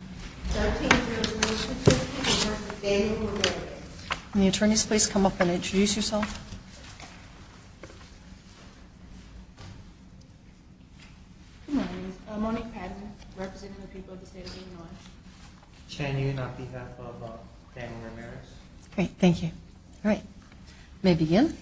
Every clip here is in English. May I take your attention to the people of the state of Illinois? May the attorneys please come up and introduce yourself? Good morning. My name is Monique Padman, representing the people of the state of Illinois. Can you, on behalf of Daniel Ramierz? Great, thank you. All right, may I begin?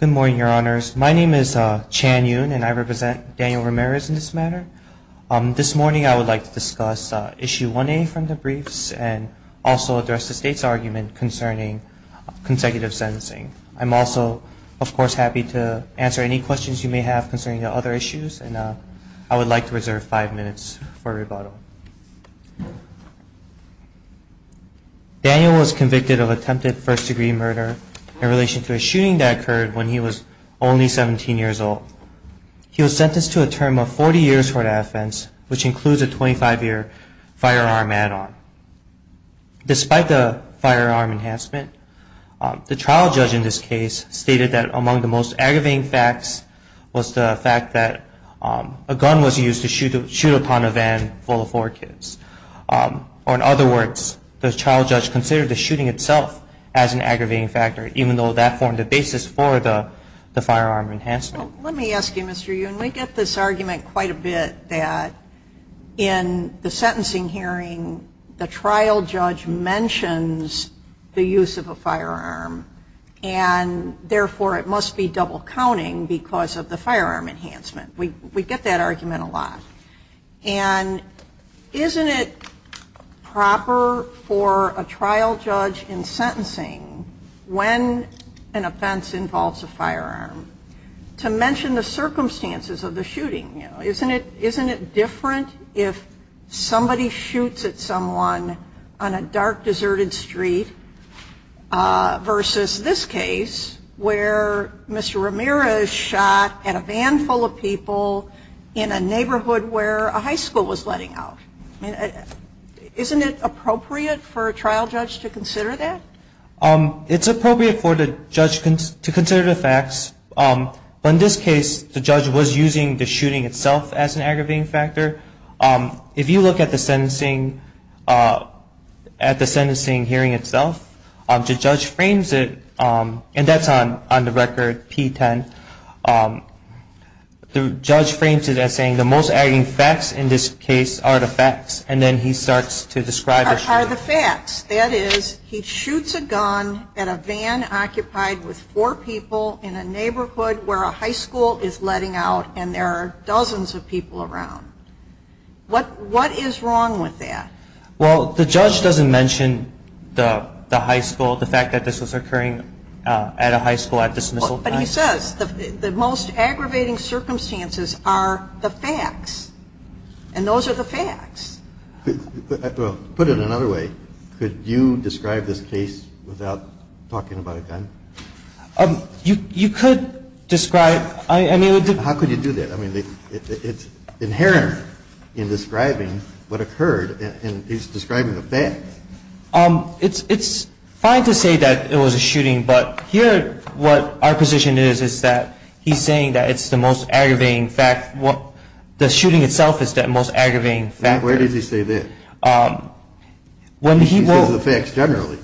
Good morning, your honors. My name is Chan Yoon, and I represent Daniel Ramierz in this matter. This morning I would like to discuss Issue 1A from the briefs and also address the state's argument concerning consecutive sentencing. I'm also, of course, happy to answer any questions you may have concerning the other issues. And I would like to reserve five minutes for rebuttal. Daniel was convicted of attempted first-degree murder in relation to a shooting that occurred when he was only 17 years old. He was sentenced to a term of 40 years for that offense, which includes a 25-year firearm add-on. Despite the firearm enhancement, the trial judge in this case stated that among the most aggravating facts was the fact that a gun was used to shoot upon a van full of four kids. Or in other words, the trial judge considered the shooting itself as an aggravating factor, even though that formed the basis for the firearm enhancement. Let me ask you, Mr. Yoon, we get this argument quite a bit that in the sentencing hearing, the trial judge mentions the use of a firearm, and therefore it must be double-counting because of the firearm enhancement. We get that argument a lot. And isn't it proper for a trial judge in sentencing, when an offense involves a firearm, to mention the circumstances of the shooting? Isn't it different if somebody shoots at someone on a dark, deserted street versus this case, where Mr. Ramirez shot at a van full of people in a neighborhood where a high school was letting out? Isn't it appropriate for a trial judge to consider that? It's appropriate for the judge to consider the facts. But in this case, the judge was using the shooting itself as an aggravating factor. If you look at the sentencing hearing itself, the judge frames it, and that's on the record P10, the judge frames it as saying the most aggravating facts in this case are the facts, and then he starts to describe the shooting. That is, he shoots a gun at a van occupied with four people in a neighborhood where a high school is letting out, and there are dozens of people around. What is wrong with that? Well, the judge doesn't mention the high school, the fact that this was occurring at a high school at dismissal time. But he says the most aggravating circumstances are the facts, and those are the facts. Put it another way, could you describe this case without talking about a gun? You could describe it. How could you do that? I mean, it's inherent in describing what occurred, and he's describing the facts. It's fine to say that it was a shooting, but here what our position is is that he's saying that it's the most aggravating fact, the shooting itself is the most aggravating factor. Where does he say that? He says the facts generally.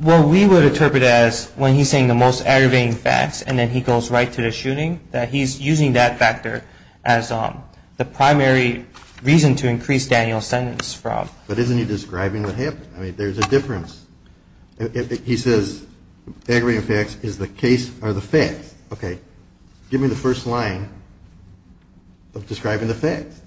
Well, we would interpret it as when he's saying the most aggravating facts, and then he goes right to the shooting, that he's using that factor as the primary reason to increase Daniel's sentence from. But isn't he describing what happened? I mean, there's a difference. He says aggravating facts is the case or the facts. Okay. Give me the first line of describing the facts.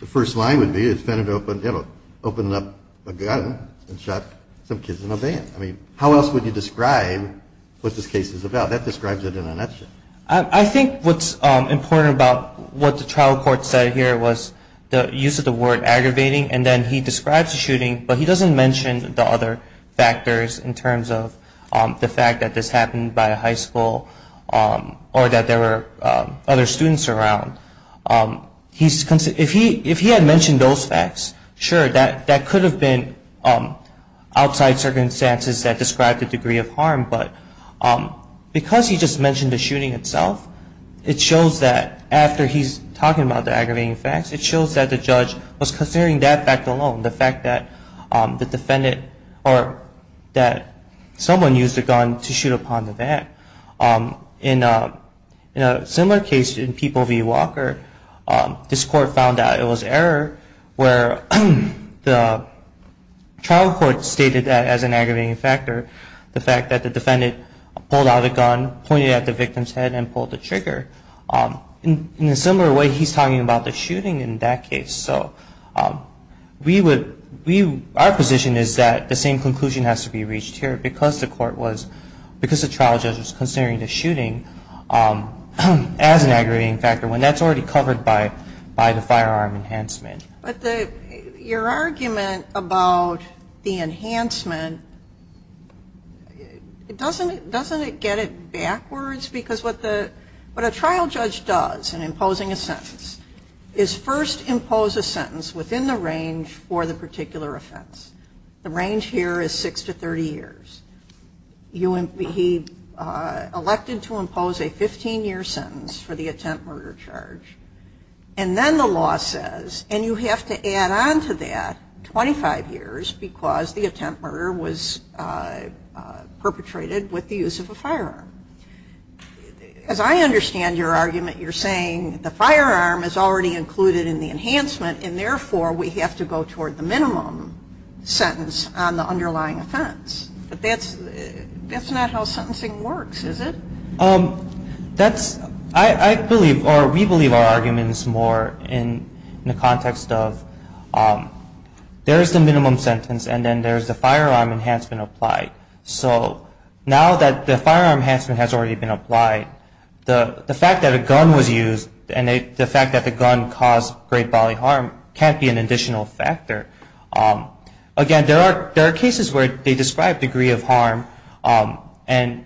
The first line would be it opened up a gun and shot some kids in a van. I mean, how else would you describe what this case is about? That describes it in a nutshell. I think what's important about what the trial court said here was the use of the word aggravating, and then he describes the shooting, but he doesn't mention the other factors in terms of the fact that this happened by a high school or that there were other students around. If he had mentioned those facts, sure, that could have been outside circumstances that described the degree of harm, but because he just mentioned the shooting itself, it shows that after he's talking about the aggravating facts, it shows that the judge was considering that fact alone, the fact that the defendant or that someone used a gun to shoot upon the van. In a similar case in People v. Walker, this court found out it was error, where the trial court stated that as an aggravating factor, the fact that the defendant pulled out a gun, pointed at the victim's head, and pulled the trigger. In a similar way, he's talking about the shooting in that case. So our position is that the same conclusion has to be reached here, because the trial judge was considering the shooting as an aggravating factor when that's already covered by the firearm enhancement. But your argument about the enhancement, doesn't it get it backwards? Because what a trial judge does in imposing a sentence is first impose a sentence within the range for the particular offense. The range here is 6 to 30 years. He elected to impose a 15-year sentence for the attempt murder charge. And then the law says, and you have to add on to that 25 years because the attempt murder was perpetrated with the use of a firearm. As I understand your argument, you're saying the firearm is already included in the enhancement, and therefore we have to go toward the minimum sentence on the underlying offense. But that's not how sentencing works, is it? I believe, or we believe our argument is more in the context of there's the minimum sentence and then there's the firearm enhancement applied. So now that the firearm enhancement has already been applied, the fact that a gun was used and the fact that the gun caused great bodily harm can't be an additional factor. Again, there are cases where they describe degree of harm and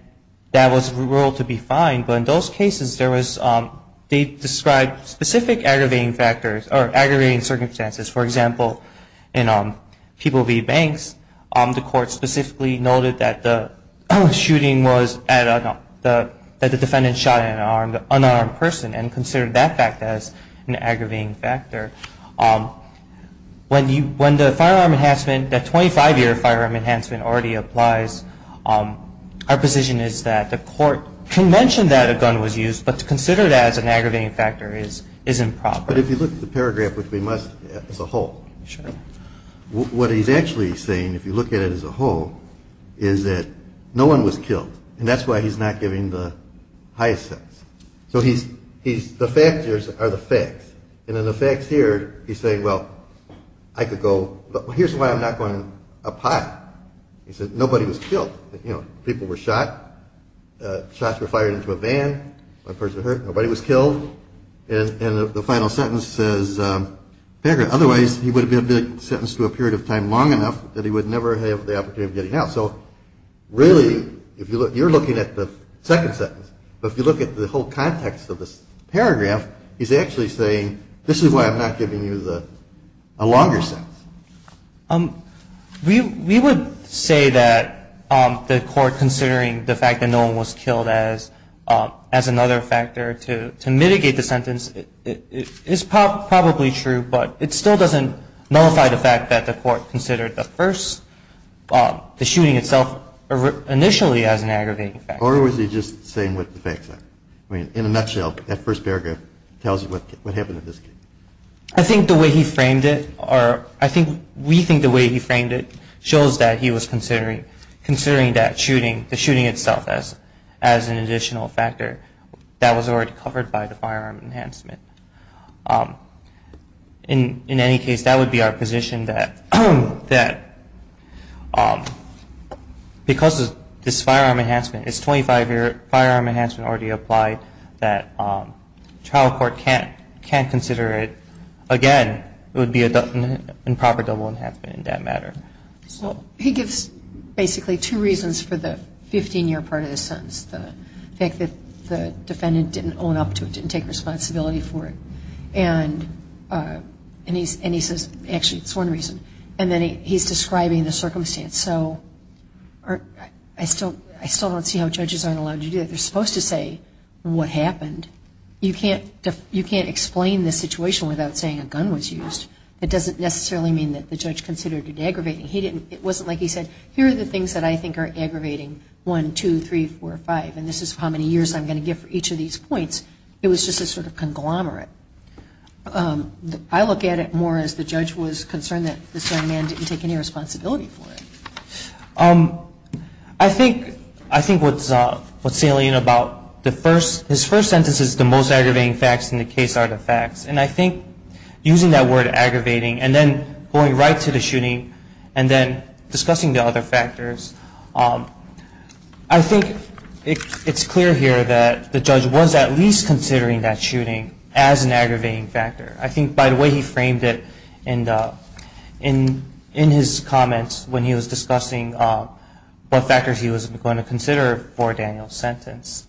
that was ruled to be fine. But in those cases, they described specific aggravating factors or aggravating circumstances. For example, in People v. Banks, the court specifically noted that the shooting was that the defendant shot an unarmed person and considered that fact as an aggravating factor. When the firearm enhancement, that 25-year firearm enhancement already applies, our position is that the court can mention that a gun was used, but to consider that as an aggravating factor is improper. But if you look at the paragraph, which we must as a whole, what he's actually saying, if you look at it as a whole, is that no one was killed, and that's why he's not giving the highest sentence. So the factors are the facts. And in the facts here, he's saying, well, I could go, here's why I'm not going up high. He said nobody was killed. People were shot. Shots were fired into a van. One person hurt. Nobody was killed. And the final sentence says, otherwise he would have been sentenced to a period of time long enough that he would never have the opportunity of getting out. So really, you're looking at the second sentence. But if you look at the whole context of this paragraph, he's actually saying, this is why I'm not giving you the longer sentence. We would say that the court considering the fact that no one was killed as another factor to mitigate the sentence is probably true, but it still doesn't nullify the fact that the court considered the first, the shooting itself initially as an aggravating factor. Or was he just saying what the facts are? I mean, in a nutshell, that first paragraph tells you what happened in this case. I think the way he framed it, or I think we think the way he framed it, shows that he was considering that shooting, the shooting itself as an additional factor that was already covered by the firearm enhancement. In any case, that would be our position that because of this firearm enhancement, it's 25-year firearm enhancement already applied, that trial court can't consider it. Again, it would be improper double enhancement in that matter. He gives basically two reasons for the 15-year part of the sentence. The fact that the defendant didn't own up to it, didn't take responsibility for it. And he says, actually, it's one reason. And then he's describing the circumstance. I still don't see how judges aren't allowed to do that. They're supposed to say what happened. You can't explain the situation without saying a gun was used. It doesn't necessarily mean that the judge considered it aggravating. It wasn't like he said, here are the things that I think are aggravating, one, two, three, four, five, and this is how many years I'm going to give for each of these points. It was just a sort of conglomerate. I look at it more as the judge was concerned that this young man didn't take any responsibility for it. I think what's salient about his first sentence is the most aggravating facts in the case are the facts. And I think using that word aggravating and then going right to the shooting and then discussing the other factors, I think it's clear here that the judge was at least considering that shooting as an aggravating factor. I think by the way he framed it in his comments when he was discussing what factors he was going to consider for Daniel's sentence.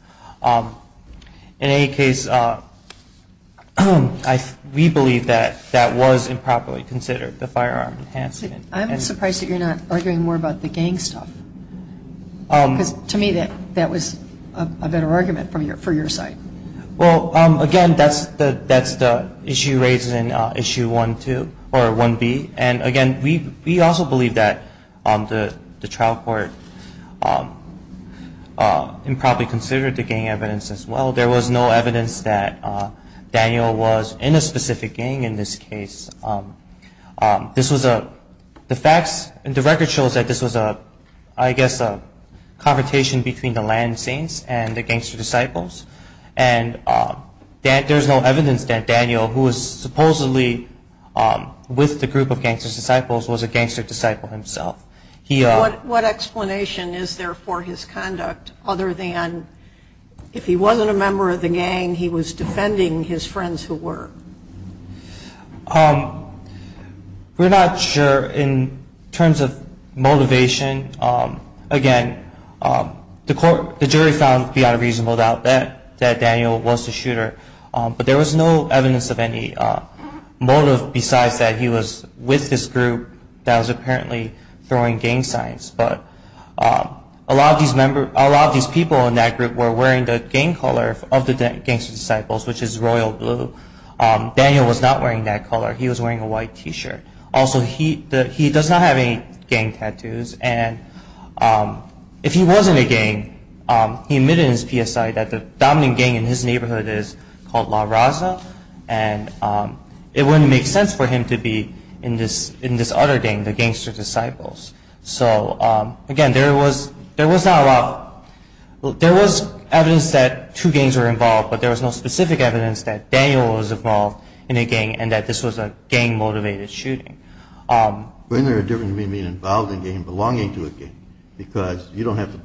In any case, we believe that that was improperly considered, the firearm enhancement. I'm surprised that you're not arguing more about the gang stuff. Because to me that was a better argument for your side. Well, again, that's the issue raised in Issue 1B. And again, we also believe that the trial court improperly considered the gang evidence as well. There was no evidence that Daniel was in a specific gang in this case. The record shows that this was I guess a confrontation between the Land Saints and the Gangster Disciples. And there's no evidence that Daniel, who was supposedly with the group of Gangster Disciples, was a Gangster Disciple himself. What explanation is there for his conduct other than if he wasn't a member of the gang, he was defending his friends who were? We're not sure in terms of motivation. Again, the jury found beyond a reasonable doubt that Daniel was the shooter. But there was no evidence of any motive besides that he was with this group that was apparently throwing gang signs. A lot of these people in that group were wearing the gang color of the Gangster Disciples, which is royal blue. Daniel was not wearing that color. He was wearing a white t-shirt. Also, he does not have any gang tattoos. And if he wasn't a gang, he admitted in his PSI that the dominant gang in his neighborhood is called La Raza. And it wouldn't make sense for him to be in this other gang, the Gangster Disciples. Again, there was evidence that two gangs were involved, but there was no specific evidence that Daniel was involved in a gang and that this was a gang-motivated shooting. But isn't there a difference between being involved in a gang and belonging to a gang? Because you don't have to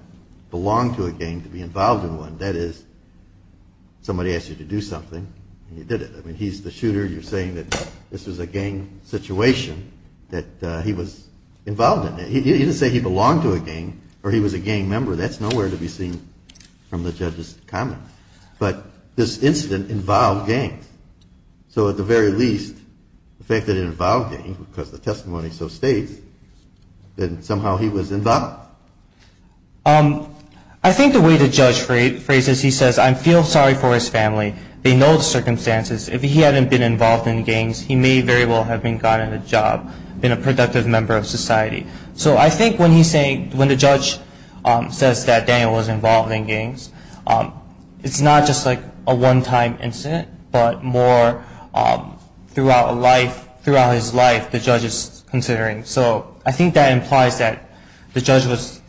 belong to a gang to be involved in one. That is, somebody asked you to do something, and you did it. I mean, he's the shooter. You're saying that this was a gang situation that he was involved in. He didn't say he belonged to a gang or he was a gang member. That's nowhere to be seen from the judge's comment. But this incident involved gangs. So at the very least, the fact that it involved gangs, because the testimony so states, that somehow he was involved? I think the way the judge phrases it, he says, I feel sorry for his family. They know the circumstances. If he hadn't been involved in gangs, he may very well have gotten a job, been a productive member of society. So I think when the judge says that Daniel was involved in gangs, it's not just a one-time incident, but more throughout his life the judge is considering. So I think that implies that the judge was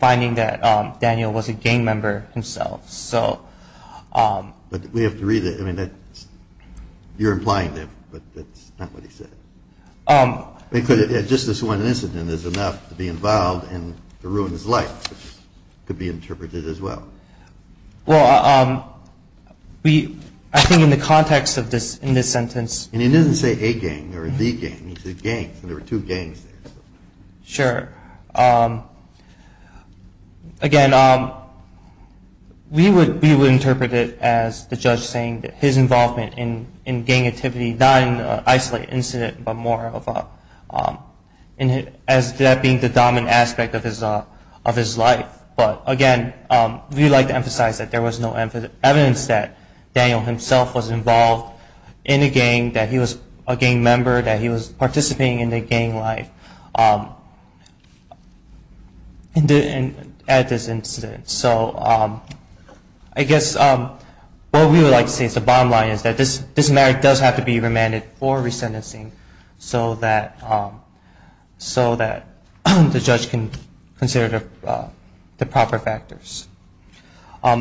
finding that Daniel was a gang member himself. But we have to read it. You're implying that, but that's not what he said. Just this one incident is enough to be involved and to ruin his life. It could be interpreted as well. I think in the context of this sentence... He didn't say a gang or a gang. He said gangs. There were two gangs there. Sure. Again, we would interpret it as the judge saying that his involvement in gang activity, not in an isolated incident, but more as that being the dominant aspect of his life. But again, we like to emphasize that there was no evidence that Daniel himself was involved in a gang, that he was a gang member, that he was participating in the gang life at this incident. So I guess what we would like to say is the bottom line is that this matter does have to be remanded for resentencing so that the judge can consider the proper factors. I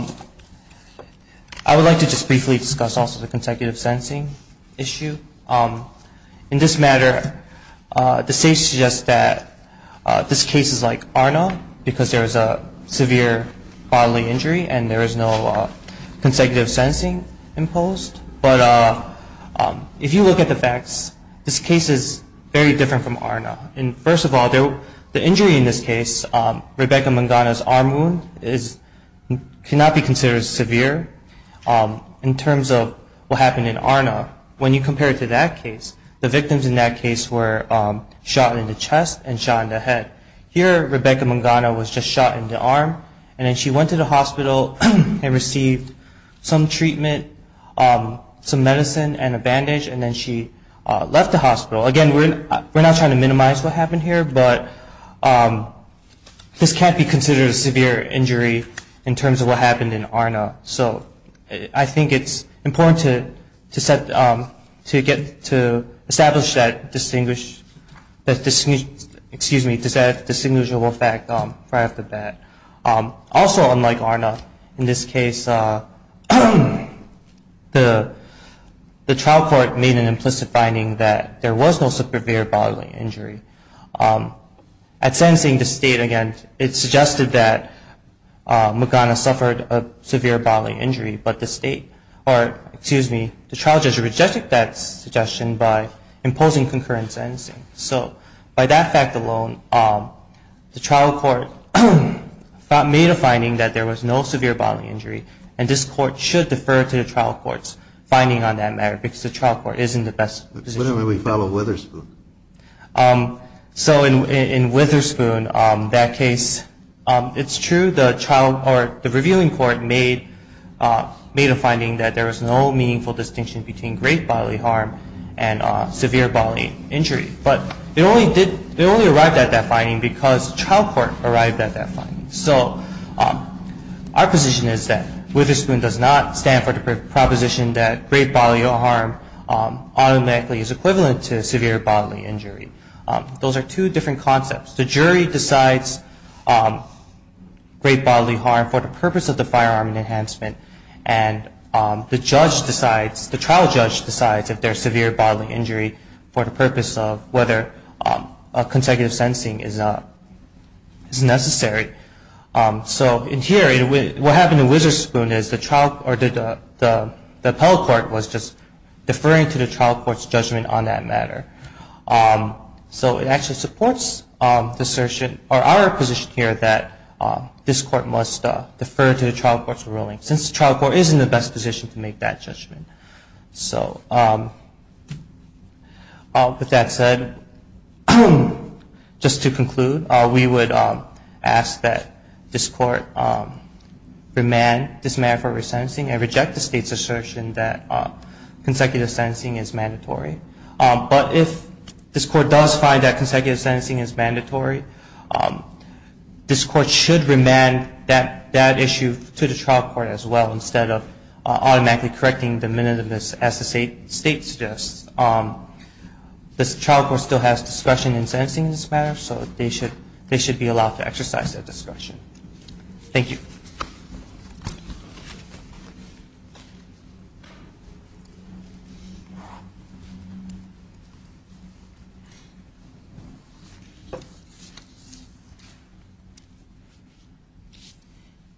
would like to just briefly discuss also the consecutive sentencing issue. In this matter, the state suggests that this case is like ARNA because there is a severe bodily injury and there is no consecutive sentencing imposed. But if you look at the facts, this case is very different from ARNA. First of all, the injury in this case, Rebecca Mangana's arm wound cannot be considered severe. In terms of what happened in ARNA, when you compare it to that case, the victims in that case were shot in the chest and shot in the head. Here, Rebecca Mangana was just shot in the arm and then she went to the hospital and received some treatment, some medicine and a bandage and then she left the hospital. Again, we're not trying to minimize what happened here, but this can't be considered a severe injury in terms of what happened in ARNA. I think it's important to establish that distinguishable fact right off the bat. Also, unlike ARNA, in this case, the trial court made an implicit finding that there was no severe bodily injury. At sentencing, the state, again, it suggested that Mangana suffered a severe bodily injury, but the state or, excuse me, the trial judge rejected that suggestion by imposing concurrent sentencing. So by that fact alone, the trial court made a finding that there was no severe bodily injury and this court should defer to the trial court's finding on that matter because the trial court isn't the best position. So in Witherspoon, that case, it's true, the revealing court made a finding that there was no meaningful distinction between great bodily harm and severe bodily injury. But they only arrived at that finding because trial court arrived at that finding. So our position is that Witherspoon does not stand for the proposition that great bodily harm automatically is equivalent to severe bodily injury. Those are two different concepts. The jury decides great bodily harm for the purpose of the firearm enhancement and the judge decides, the trial judge decides if there's severe bodily injury for the purpose of whether consecutive sentencing is necessary. So in theory, what happened in Witherspoon is the trial, or the appellate court was just deferring to the trial court's judgment on that matter. So it actually supports the assertion, or our position here, that this court must defer to the trial court's ruling since the trial court is in the best position to make that judgment. So with that said, just to conclude, we would ask that this court remand this matter for resentencing and reject the state's assertion that consecutive sentencing is mandatory. But if this court does find that consecutive sentencing is mandatory, this court should remand that issue to the trial court as well instead of automatically correcting the minimum as the state suggests. The trial court still has discretion in sentencing this matter, so they should be allowed to exercise that discretion. Thank you.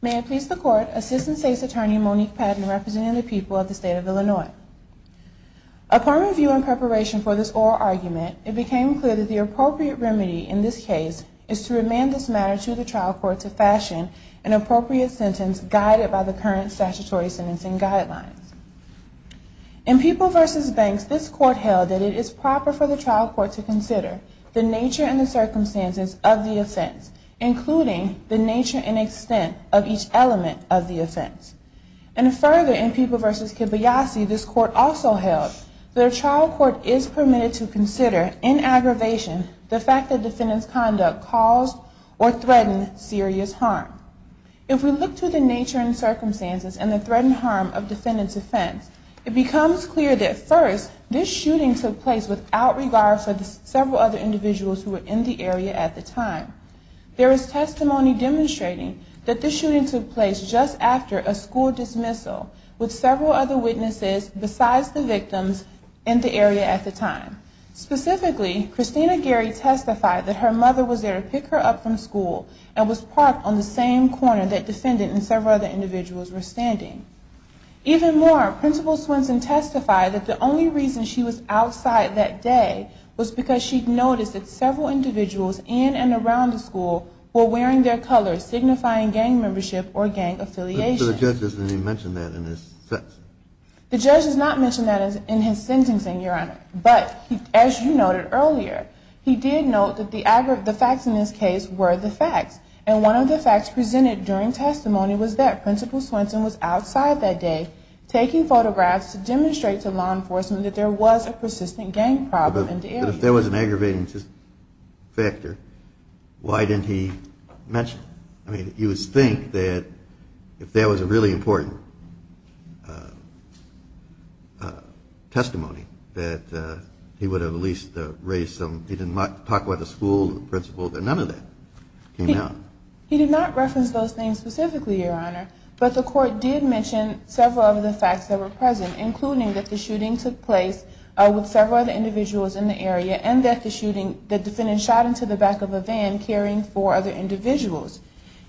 May I please the court, Assistant State's Attorney Monique Padden representing the people of the state of Illinois. Upon review and preparation for this oral argument, it became clear that the appropriate remedy in this case is to remand this matter to the trial court to fashion an appropriate sentence guided by the current statutory sentencing guidelines. In People v. Banks, this court held that it is proper for the trial court to consider the nature and the circumstances of the offense, including the nature and extent of each element of the offense. And further, in People v. Kibayasi, this court also held that a trial court is permitted to consider in aggravation the fact that defendant's conduct caused or threatened serious harm. If we look to the first, this shooting took place without regard for the several other individuals who were in the area at the time. There is testimony demonstrating that this shooting took place just after a school dismissal with several other witnesses besides the victims in the area at the time. Specifically, Christina Gary testified that her mother was there to pick her up from school and was parked on the same corner that defendant and several other individuals were standing. Even more, Principal Swenson testified that the only reason she was outside that day was because she'd noticed that several individuals in and around the school were wearing their colors signifying gang membership or gang affiliation. But the judge doesn't even mention that in his sentencing. The judge does not mention that in his sentencing, Your Honor. But, as you noted earlier, he did note that the Principal Swenson was outside that day taking photographs to demonstrate to law enforcement that there was a persistent gang problem in the area. But if there was an aggravating factor, why didn't he mention it? I mean, you would think that if there was a really important testimony that he would have at least raised some, he didn't talk about the school, the principal, that none of that came out. He did not reference those things specifically, Your Honor. But the court did mention several of the facts that were present, including that the shooting took place with several other individuals in the area and that the defendant shot into the back of a van carrying four other individuals.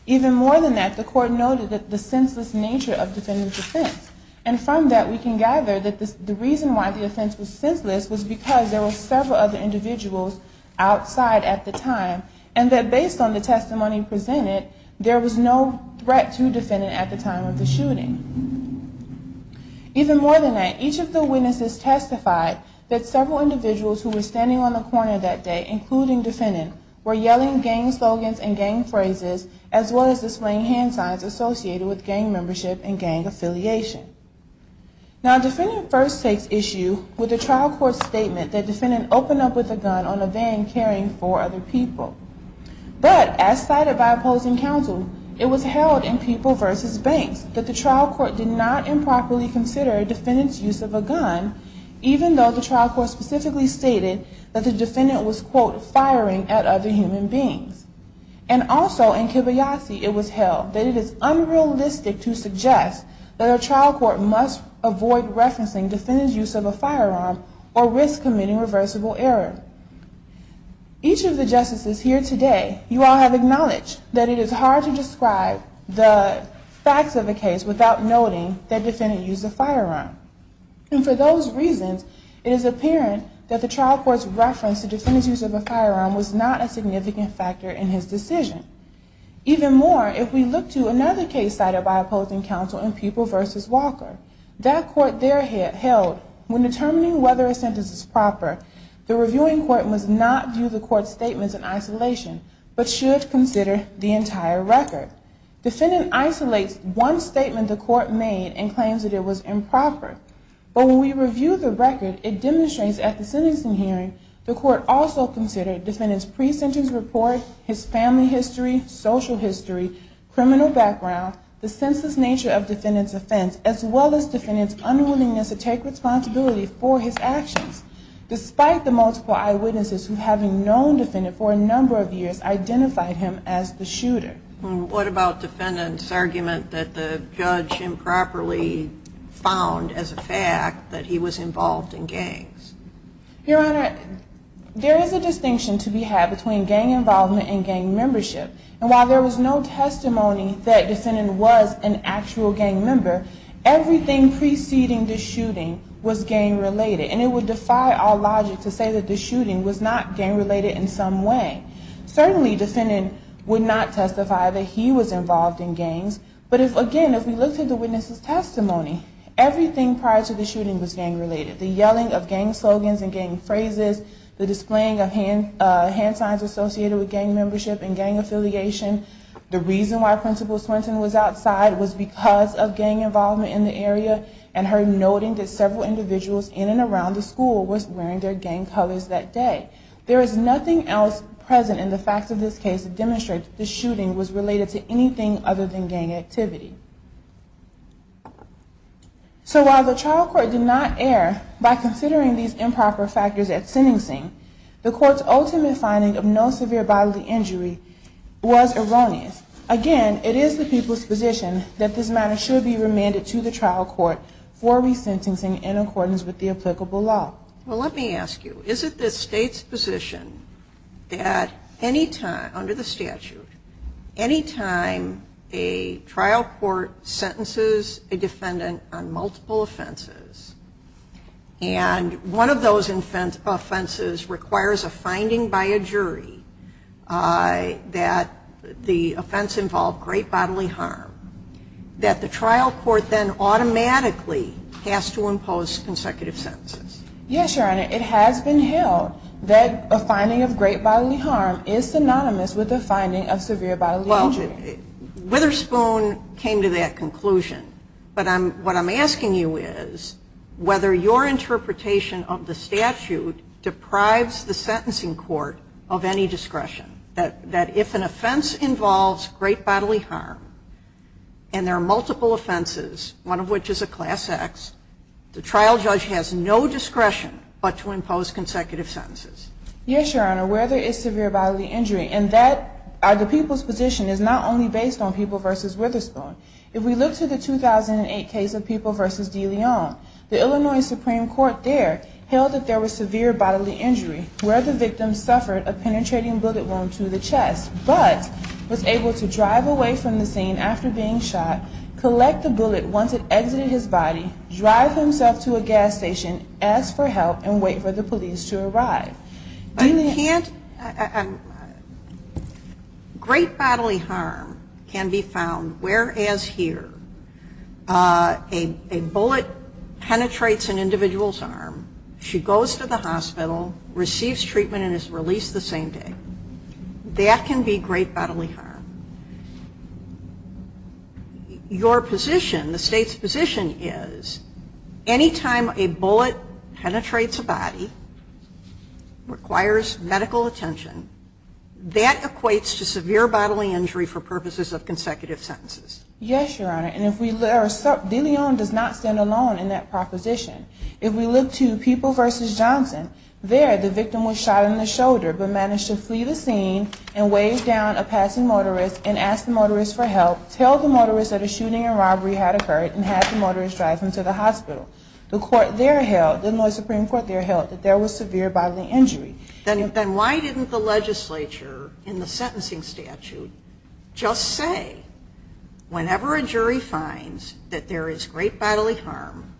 Even more than that, the court noted that the senseless nature of defendant's offense. And from that, we can gather that the reason why the offense was with several other individuals outside at the time, and that based on the testimony presented, there was no threat to defendant at the time of the shooting. Even more than that, each of the witnesses testified that several individuals who were standing on the corner that day, including defendant, were yelling gang slogans and gang phrases as well as displaying hand signs associated with gang membership and gang affiliation. Now, defendant first takes issue with the trial court's statement that defendant opened up with a gun on a van carrying four other people. But as cited by opposing counsel, it was held in People vs. Banks that the trial court did not improperly consider defendant's use of a gun, even though the trial court specifically stated that the defendant was, quote, firing at other human beings. And also in Kibayasi, it was held that it is unrealistic to suggest that a trial court must avoid referencing defendant's use of a firearm or risk committing reversible error. Each of the justices here today, you all have acknowledged that it is hard to describe the facts of the case without noting that defendant used a firearm. And for those reasons, it is apparent that the trial court's reference to defendant's use of a Another case cited by opposing counsel in People vs. Walker. That court there held when determining whether a sentence is proper, the reviewing court must not view the court's statements in isolation, but should consider the entire record. Defendant isolates one statement the court made and claims that it was improper. But when we review the record, it demonstrates at the sentencing hearing the court also considered defendant's pre-sentence report, his family history, social history, criminal background, the senseless nature of defendant's offense, as well as defendant's unwillingness to take responsibility for his actions, despite the multiple eyewitnesses who, having known defendant for a number of years, identified him as the shooter. What about defendant's argument that the judge improperly found as a fact that he was involved in gangs? Your Honor, there is a distinction to be had between gang involvement and gang membership. And while there was no testimony that defendant was an actual gang member, everything preceding the shooting was gang related. And it would defy all logic to say that the shooting was not gang related in some way. Certainly, defendant would not testify that he was gang related. The yelling of gang slogans and gang phrases, the displaying of hand signs associated with gang membership and gang affiliation, the reason why Principal Swinton was outside was because of gang involvement in the area, and her noting that several individuals in and around the school was wearing their gang colors that day. There is nothing else present in the facts of this case to demonstrate that the shooting was related to anything other than gang membership. The court's ultimate finding of no severe bodily injury was erroneous. Again, it is the people's position that this matter should be remanded to the trial court for resentencing in accordance with the applicable law. Well, let me ask you, is it the State's position that any time, under the statute, any time a crime is committed, and one of those offenses requires a finding by a jury that the offense involved great bodily harm, that the trial court then automatically has to impose consecutive sentences? Yes, Your Honor. It has been held that a finding of great bodily harm is synonymous with a Well, Ms. Boone came to that conclusion, but what I'm asking you is whether your interpretation of the statute deprives the sentencing court of any discretion, that if an offense involves great bodily harm, and there are multiple offenses, one of which is a class act, the trial judge has no discretion to impose the sentence. If we look to the 2008 case of People v. DeLeon, the Illinois Supreme Court there held that there was severe bodily injury, where the victim suffered a penetrating bullet wound to the chest, but was able to drive away from the scene after being shot, collect the bullet once it exited his body, drive himself to a gas station, ask for help, and wait for the police to arrive. Great bodily harm can be found, whereas here a bullet penetrates an individual's arm, she goes to the hospital, receives treatment and is released the same day. That can be great bodily harm. Your position, the state's position is, any time a bullet penetrates a body, requires medical attention, that equates to severe bodily injury for purposes of consecutive sentences. Yes, Your Honor, and if we look, DeLeon does not stand alone in that proposition. If we look to People v. Johnson, there the victim was shot in the shoulder, but managed to flee the scene and waved down a passing motorist and asked the motorist for help, tell the motorist that a shooting and robbery had occurred and had the motorist drive him to the hospital. The court there held, the Illinois Supreme Court there held, that there was severe bodily injury. Then why didn't the legislature in the sentencing statute just say, whenever a jury finds that there is great bodily harm,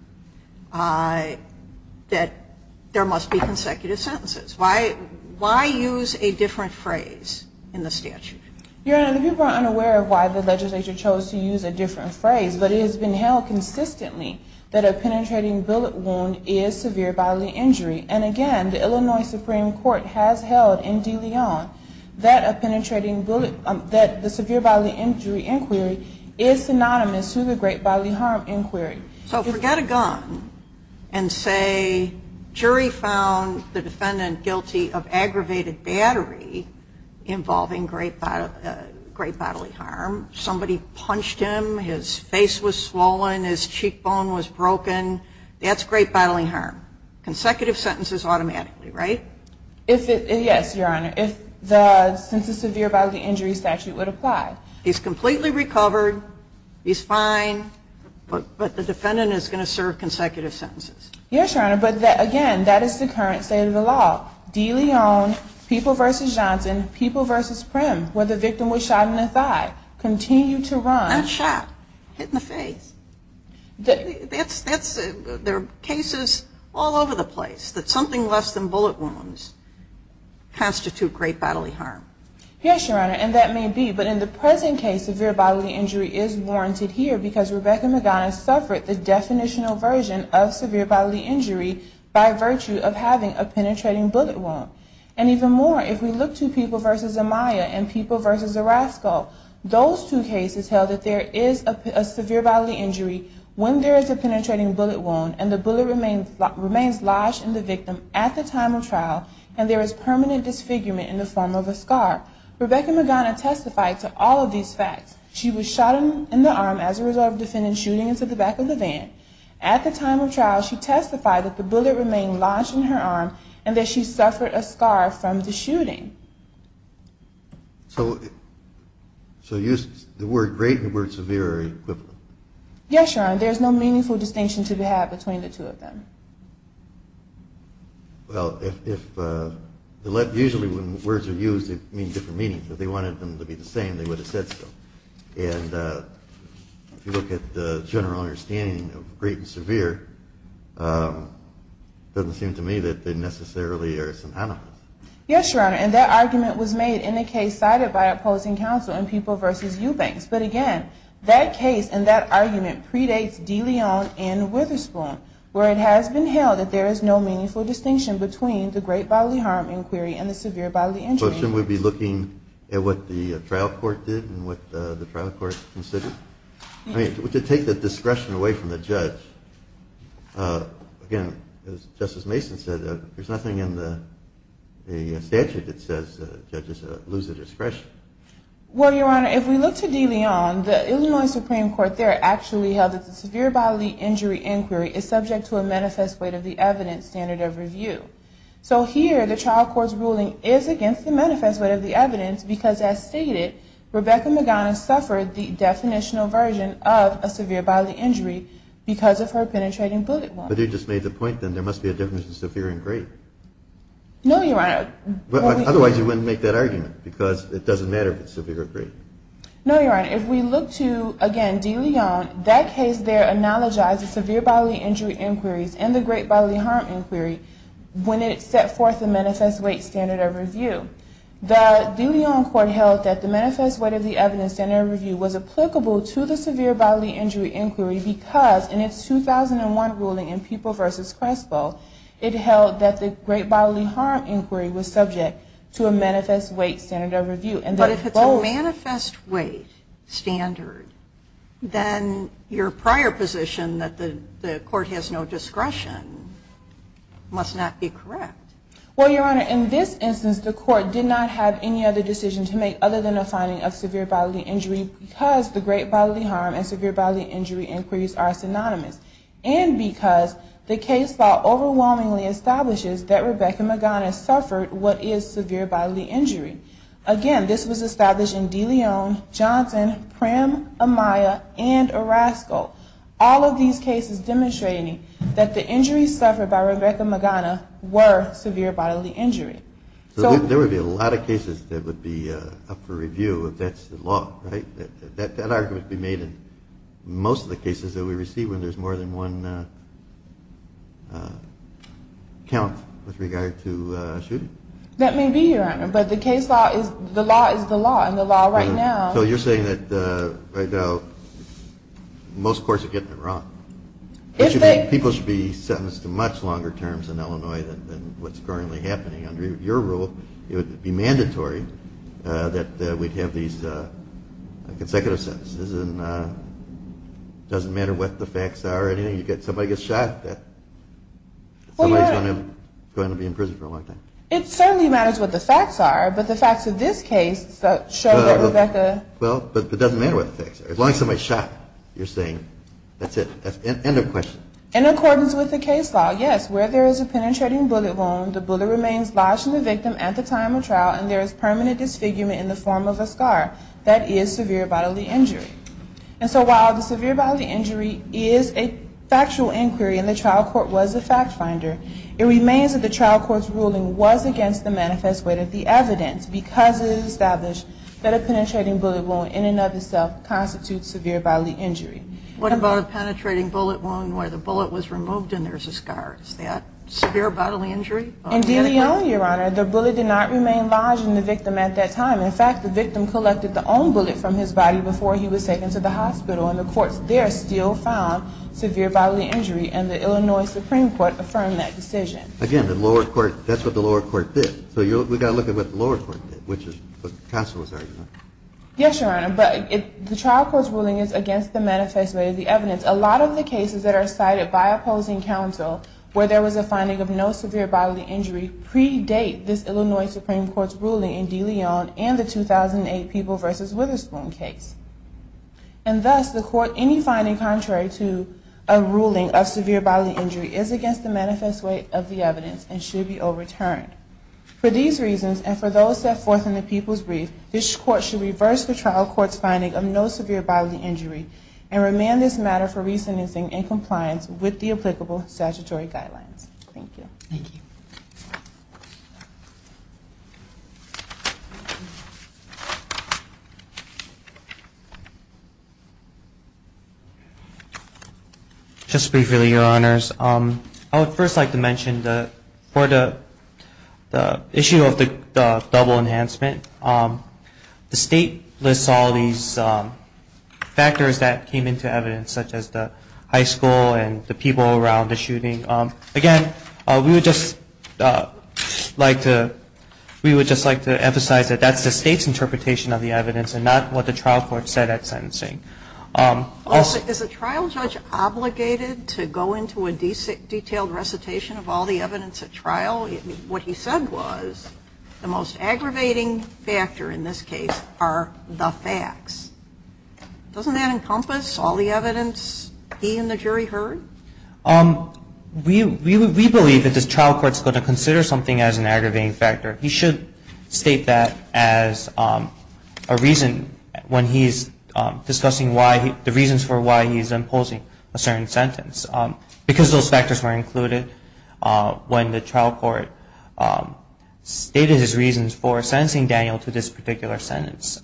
that there must be consecutive sentences? Why use a different phrase? Your Honor, the people are unaware of why the legislature chose to use a different phrase, but it has been held consistently that a penetrating bullet wound is severe bodily injury. And again, the Illinois Supreme Court has held in DeLeon that a penetrating bullet, that the severe bodily injury inquiry is synonymous to the great bodily harm inquiry. So forget a gun and say, jury found the defendant guilty of aggravated battery involving great bodily harm. Somebody punched him. His face was swollen. His cheekbone was broken. That's great bodily harm. Consecutive sentences automatically, right? Yes, Your Honor. If the, since the severe bodily injury statute would apply. He's completely recovered. He's fine. But the defendant is going to serve consecutive sentences. Yes, Your Honor. But again, that is the current state of the law. DeLeon, People v. Johnson, People v. Prim, where the victim was shot in the thigh, continue to run. Not shot. Hit in the face. There are cases all over the place that something less than bullet wounds constitute great bodily harm. And it says in case severe bodily injury is warranted here because Rebecca Magana suffered the definitional version of severe bodily injury by virtue of having a penetrating bullet wound. And even more, if we look to People v. Amaya and People v. Orozco, those two cases held that there is a severe bodily injury when there is a penetrating bullet wound and the bullet remains lodged in the victim at the time of trial and there is permanent disfigurement in the form of a scar. Rebecca Magana testified to all of these facts. She was shot in the arm as a result of the defendant shooting into the back of the van. At the time of trial, she testified that the bullet remained lodged in her arm and that she suffered a scar from the shooting. So use the word great and the word severe are equivalent. Yes, Your Honor. There is no meaningful distinction to be had between the two of them. Well, usually when words are used, they mean different meanings. If they wanted them to be the same, they would have said so. And if you look at the general understanding of great and severe, it doesn't seem to me that they necessarily are synonymous. Yes, Your Honor. And that argument was made in a case cited by opposing counsel in People v. Eubanks. But again, that case and that argument predates De Leon v. Witherspoon, where it has been held that there is no meaningful distinction between the great bodily harm inquiry and the severe bodily injury inquiry. But shouldn't we be looking at what the trial court did and what the trial court considered? I mean, to take the discretion away from the judge, again, as Justice Mason said, there's nothing in the statute that says judges lose their discretion. Well, Your Honor, if we look to De Leon, the Illinois Supreme Court there actually held that the severe bodily injury inquiry is subject to a manifest weight of the evidence standard of review. So here, the trial court's ruling is against the manifest weight of the evidence because, as stated, Rebecca Magana suffered the definitional version of a severe bodily injury because of her penetrating bullet wound. But they just made the point, then, there must be a difference between severe and great. No, Your Honor. Otherwise, you wouldn't make that argument because it doesn't matter if it's severe or great. No, Your Honor. If we look to, again, De Leon, that case there analogizes severe bodily injury inquiries and the great bodily harm inquiry when it set forth the manifest weight standard of review. The De Leon court held that the manifest weight of the evidence standard of review was applicable to the severe bodily injury inquiry because, in its 2001 ruling in People v. Crespo, it held that the great bodily harm inquiry was subject to a manifest weight standard of review. But if it's a manifest weight standard, then your prior position that the court has no discretion must not be correct. Well, Your Honor, in this instance, the court did not have any other decision to make other than a finding of severe bodily injury because the great bodily harm and severe bodily injury inquiries are synonymous and because the case file overwhelmingly establishes that Rebecca Magana suffered what is severe bodily injury. Again, this was established in De Leon, Johnson, Prim, Amaya, and Orozco. All of these cases demonstrating that the injuries suffered by Rebecca Magana were severe bodily injury. There would be a lot of cases that would be up for review if that's the law, right? That argument would be made in most of the cases that we receive when there's more than one count with regard to shooting. That may be, Your Honor, but the law is the law, and the law right now... So you're saying that most courts are getting it wrong. People should be sentenced to much longer terms in Illinois than what's currently happening. Under your rule, it would be mandatory that we'd have these consecutive sentences. It doesn't matter what the facts are or anything. Somebody gets shot, somebody's going to be in prison for a long time. It certainly matters what the facts are, but the facts of this case show that Rebecca... Well, but it doesn't matter what the facts are. As long as somebody's shot, you're saying that's it. End of question. In accordance with the case law, yes, where there is a penetrating bullet wound, the bullet remains lodged in the victim at the time of trial and there is permanent disfigurement in the form of a scar. That is severe bodily injury. And so while the severe bodily injury is a factual inquiry and the trial court was a fact finder, it remains that the trial court's ruling was against the manifest weight of the evidence because it established that a penetrating bullet wound in and of itself constitutes severe bodily injury. What about a penetrating bullet wound where the bullet was removed and there's a scar? Is that severe bodily injury? Indeed, Your Honor, the bullet did not remain lodged in the victim at that time. In fact, the victim collected the own bullet from his body before he was taken to the hospital and the courts there still found severe bodily injury and the Illinois Supreme Court affirmed that decision. Again, that's what the lower court did. So we've got to look at what the lower court did, which is what counsel was arguing. Yes, Your Honor, but the trial court's ruling is against the manifest weight of the evidence. A lot of the cases that are cited by opposing counsel where there was a finding of no severe bodily injury predate this Illinois Supreme Court's ruling in De Leon and the 2008 People v. Witherspoon case. And thus, the court, any finding contrary to a ruling of severe bodily injury is against the manifest weight of the evidence and should be overturned. For these reasons and for those set forth in the People's Brief, this court should reverse the trial court's finding of no severe bodily injury and remand this matter for re-sentencing in compliance with the applicable statutory guidelines. Thank you. Just briefly, Your Honors, I would first like to mention that for the issue of the double enhancement, the state lists all these factors that came into evidence such as the high school and the people around the shooting. Again, we would just like to emphasize that that's the state's interpretation of the evidence and not what the trial court said at sentencing. Is a trial judge obligated to go into a detailed recitation of all the evidence at trial? What he said was the most aggravating factor in this case are the facts. Doesn't that encompass all the evidence he and the jury heard? We believe that the trial court's going to consider something as an aggravating factor. He should state that as a reason when he's discussing the reasons for why he's imposing a certain sentence. Because those factors were included when the trial court stated his reasons for sentencing Daniel to this particular sentence,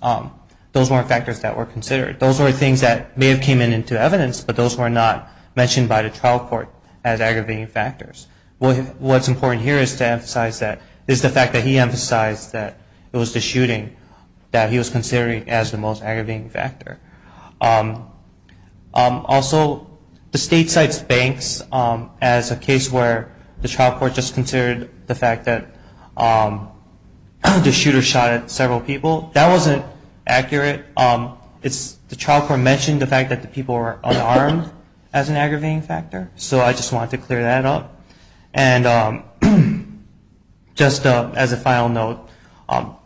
those weren't factors that were considered. Those were things that may have come into evidence, but those were not mentioned by the trial court as aggravating factors. What's important here is to emphasize that, is the fact that he emphasized that it was the shooting that he was considering as the most aggravating factor. Also, the state cites banks as a case where the trial court just considered the fact that the shooter shot at several people. That wasn't accurate. The trial court mentioned the fact that the people were unarmed as an aggravating factor, so I just wanted to clear that up. Just as a final note,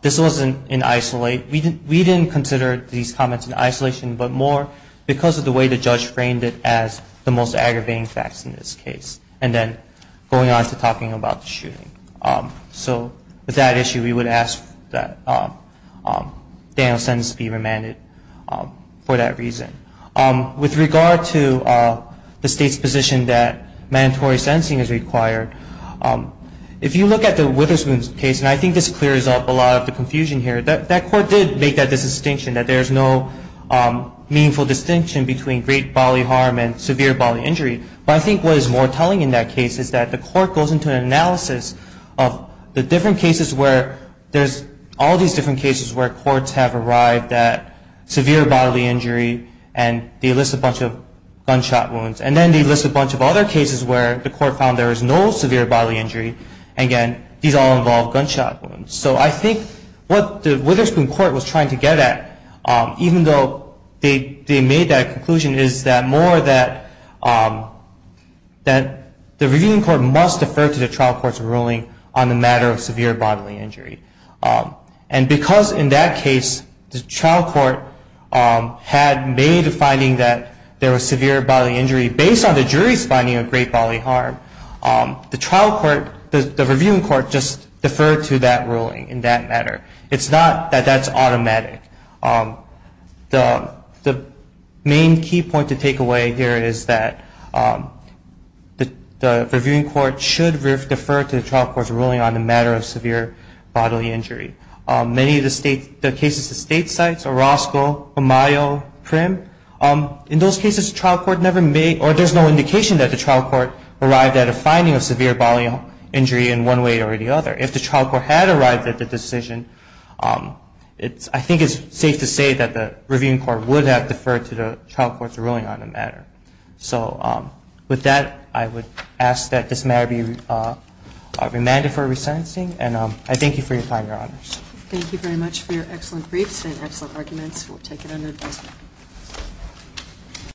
this wasn't in isolate. We didn't consider these comments in isolation, but more because of the way the judge framed it as the most aggravating facts in this case. Then going on to talking about the shooting. So with that issue, we would ask that Daniel's sentence be remanded for that reason. With regard to the state's position that mandatory sentencing is required, if you look at the Witherspoon case, and I think this clears up a lot of the confusion here, that court did make that distinction, that there's no meaningful distinction between great bodily harm and severe bodily injury. But I think what is more telling in that case is that the court goes into an analysis of the different cases where there's all these different cases where courts have arrived at severe bodily injury and they list a bunch of gunshot wounds. And then they list a bunch of other cases where the court found there was no severe bodily injury, and again, these all involve gunshot wounds. So I think what the Witherspoon court was trying to get at, even though they made that conclusion, is that more that the reviewing court must defer to the trial court's ruling on the matter of severe bodily injury. And because in that case, the trial court had made a finding that there was severe bodily injury, based on the jury's finding of great bodily harm, the trial court, the reviewing court, just deferred to that ruling. In that matter. It's not that that's automatic. The main key point to take away here is that the reviewing court should defer to the trial court's ruling on the matter of severe bodily injury. Many of the cases at state sites, Orozco, Amayo, Primm, in those cases, the trial court never made, or there's no indication that the trial court arrived at a finding of severe bodily injury in one way or the other. If the trial court had arrived at the decision, I think it's safe to say that the reviewing court would have deferred to the trial court's ruling on the matter. So with that, I would ask that this matter be remanded for resensing, and I thank you for your time, Your Honors. Thank you very much for your excellent briefs and excellent arguments. We'll take it under adjustment.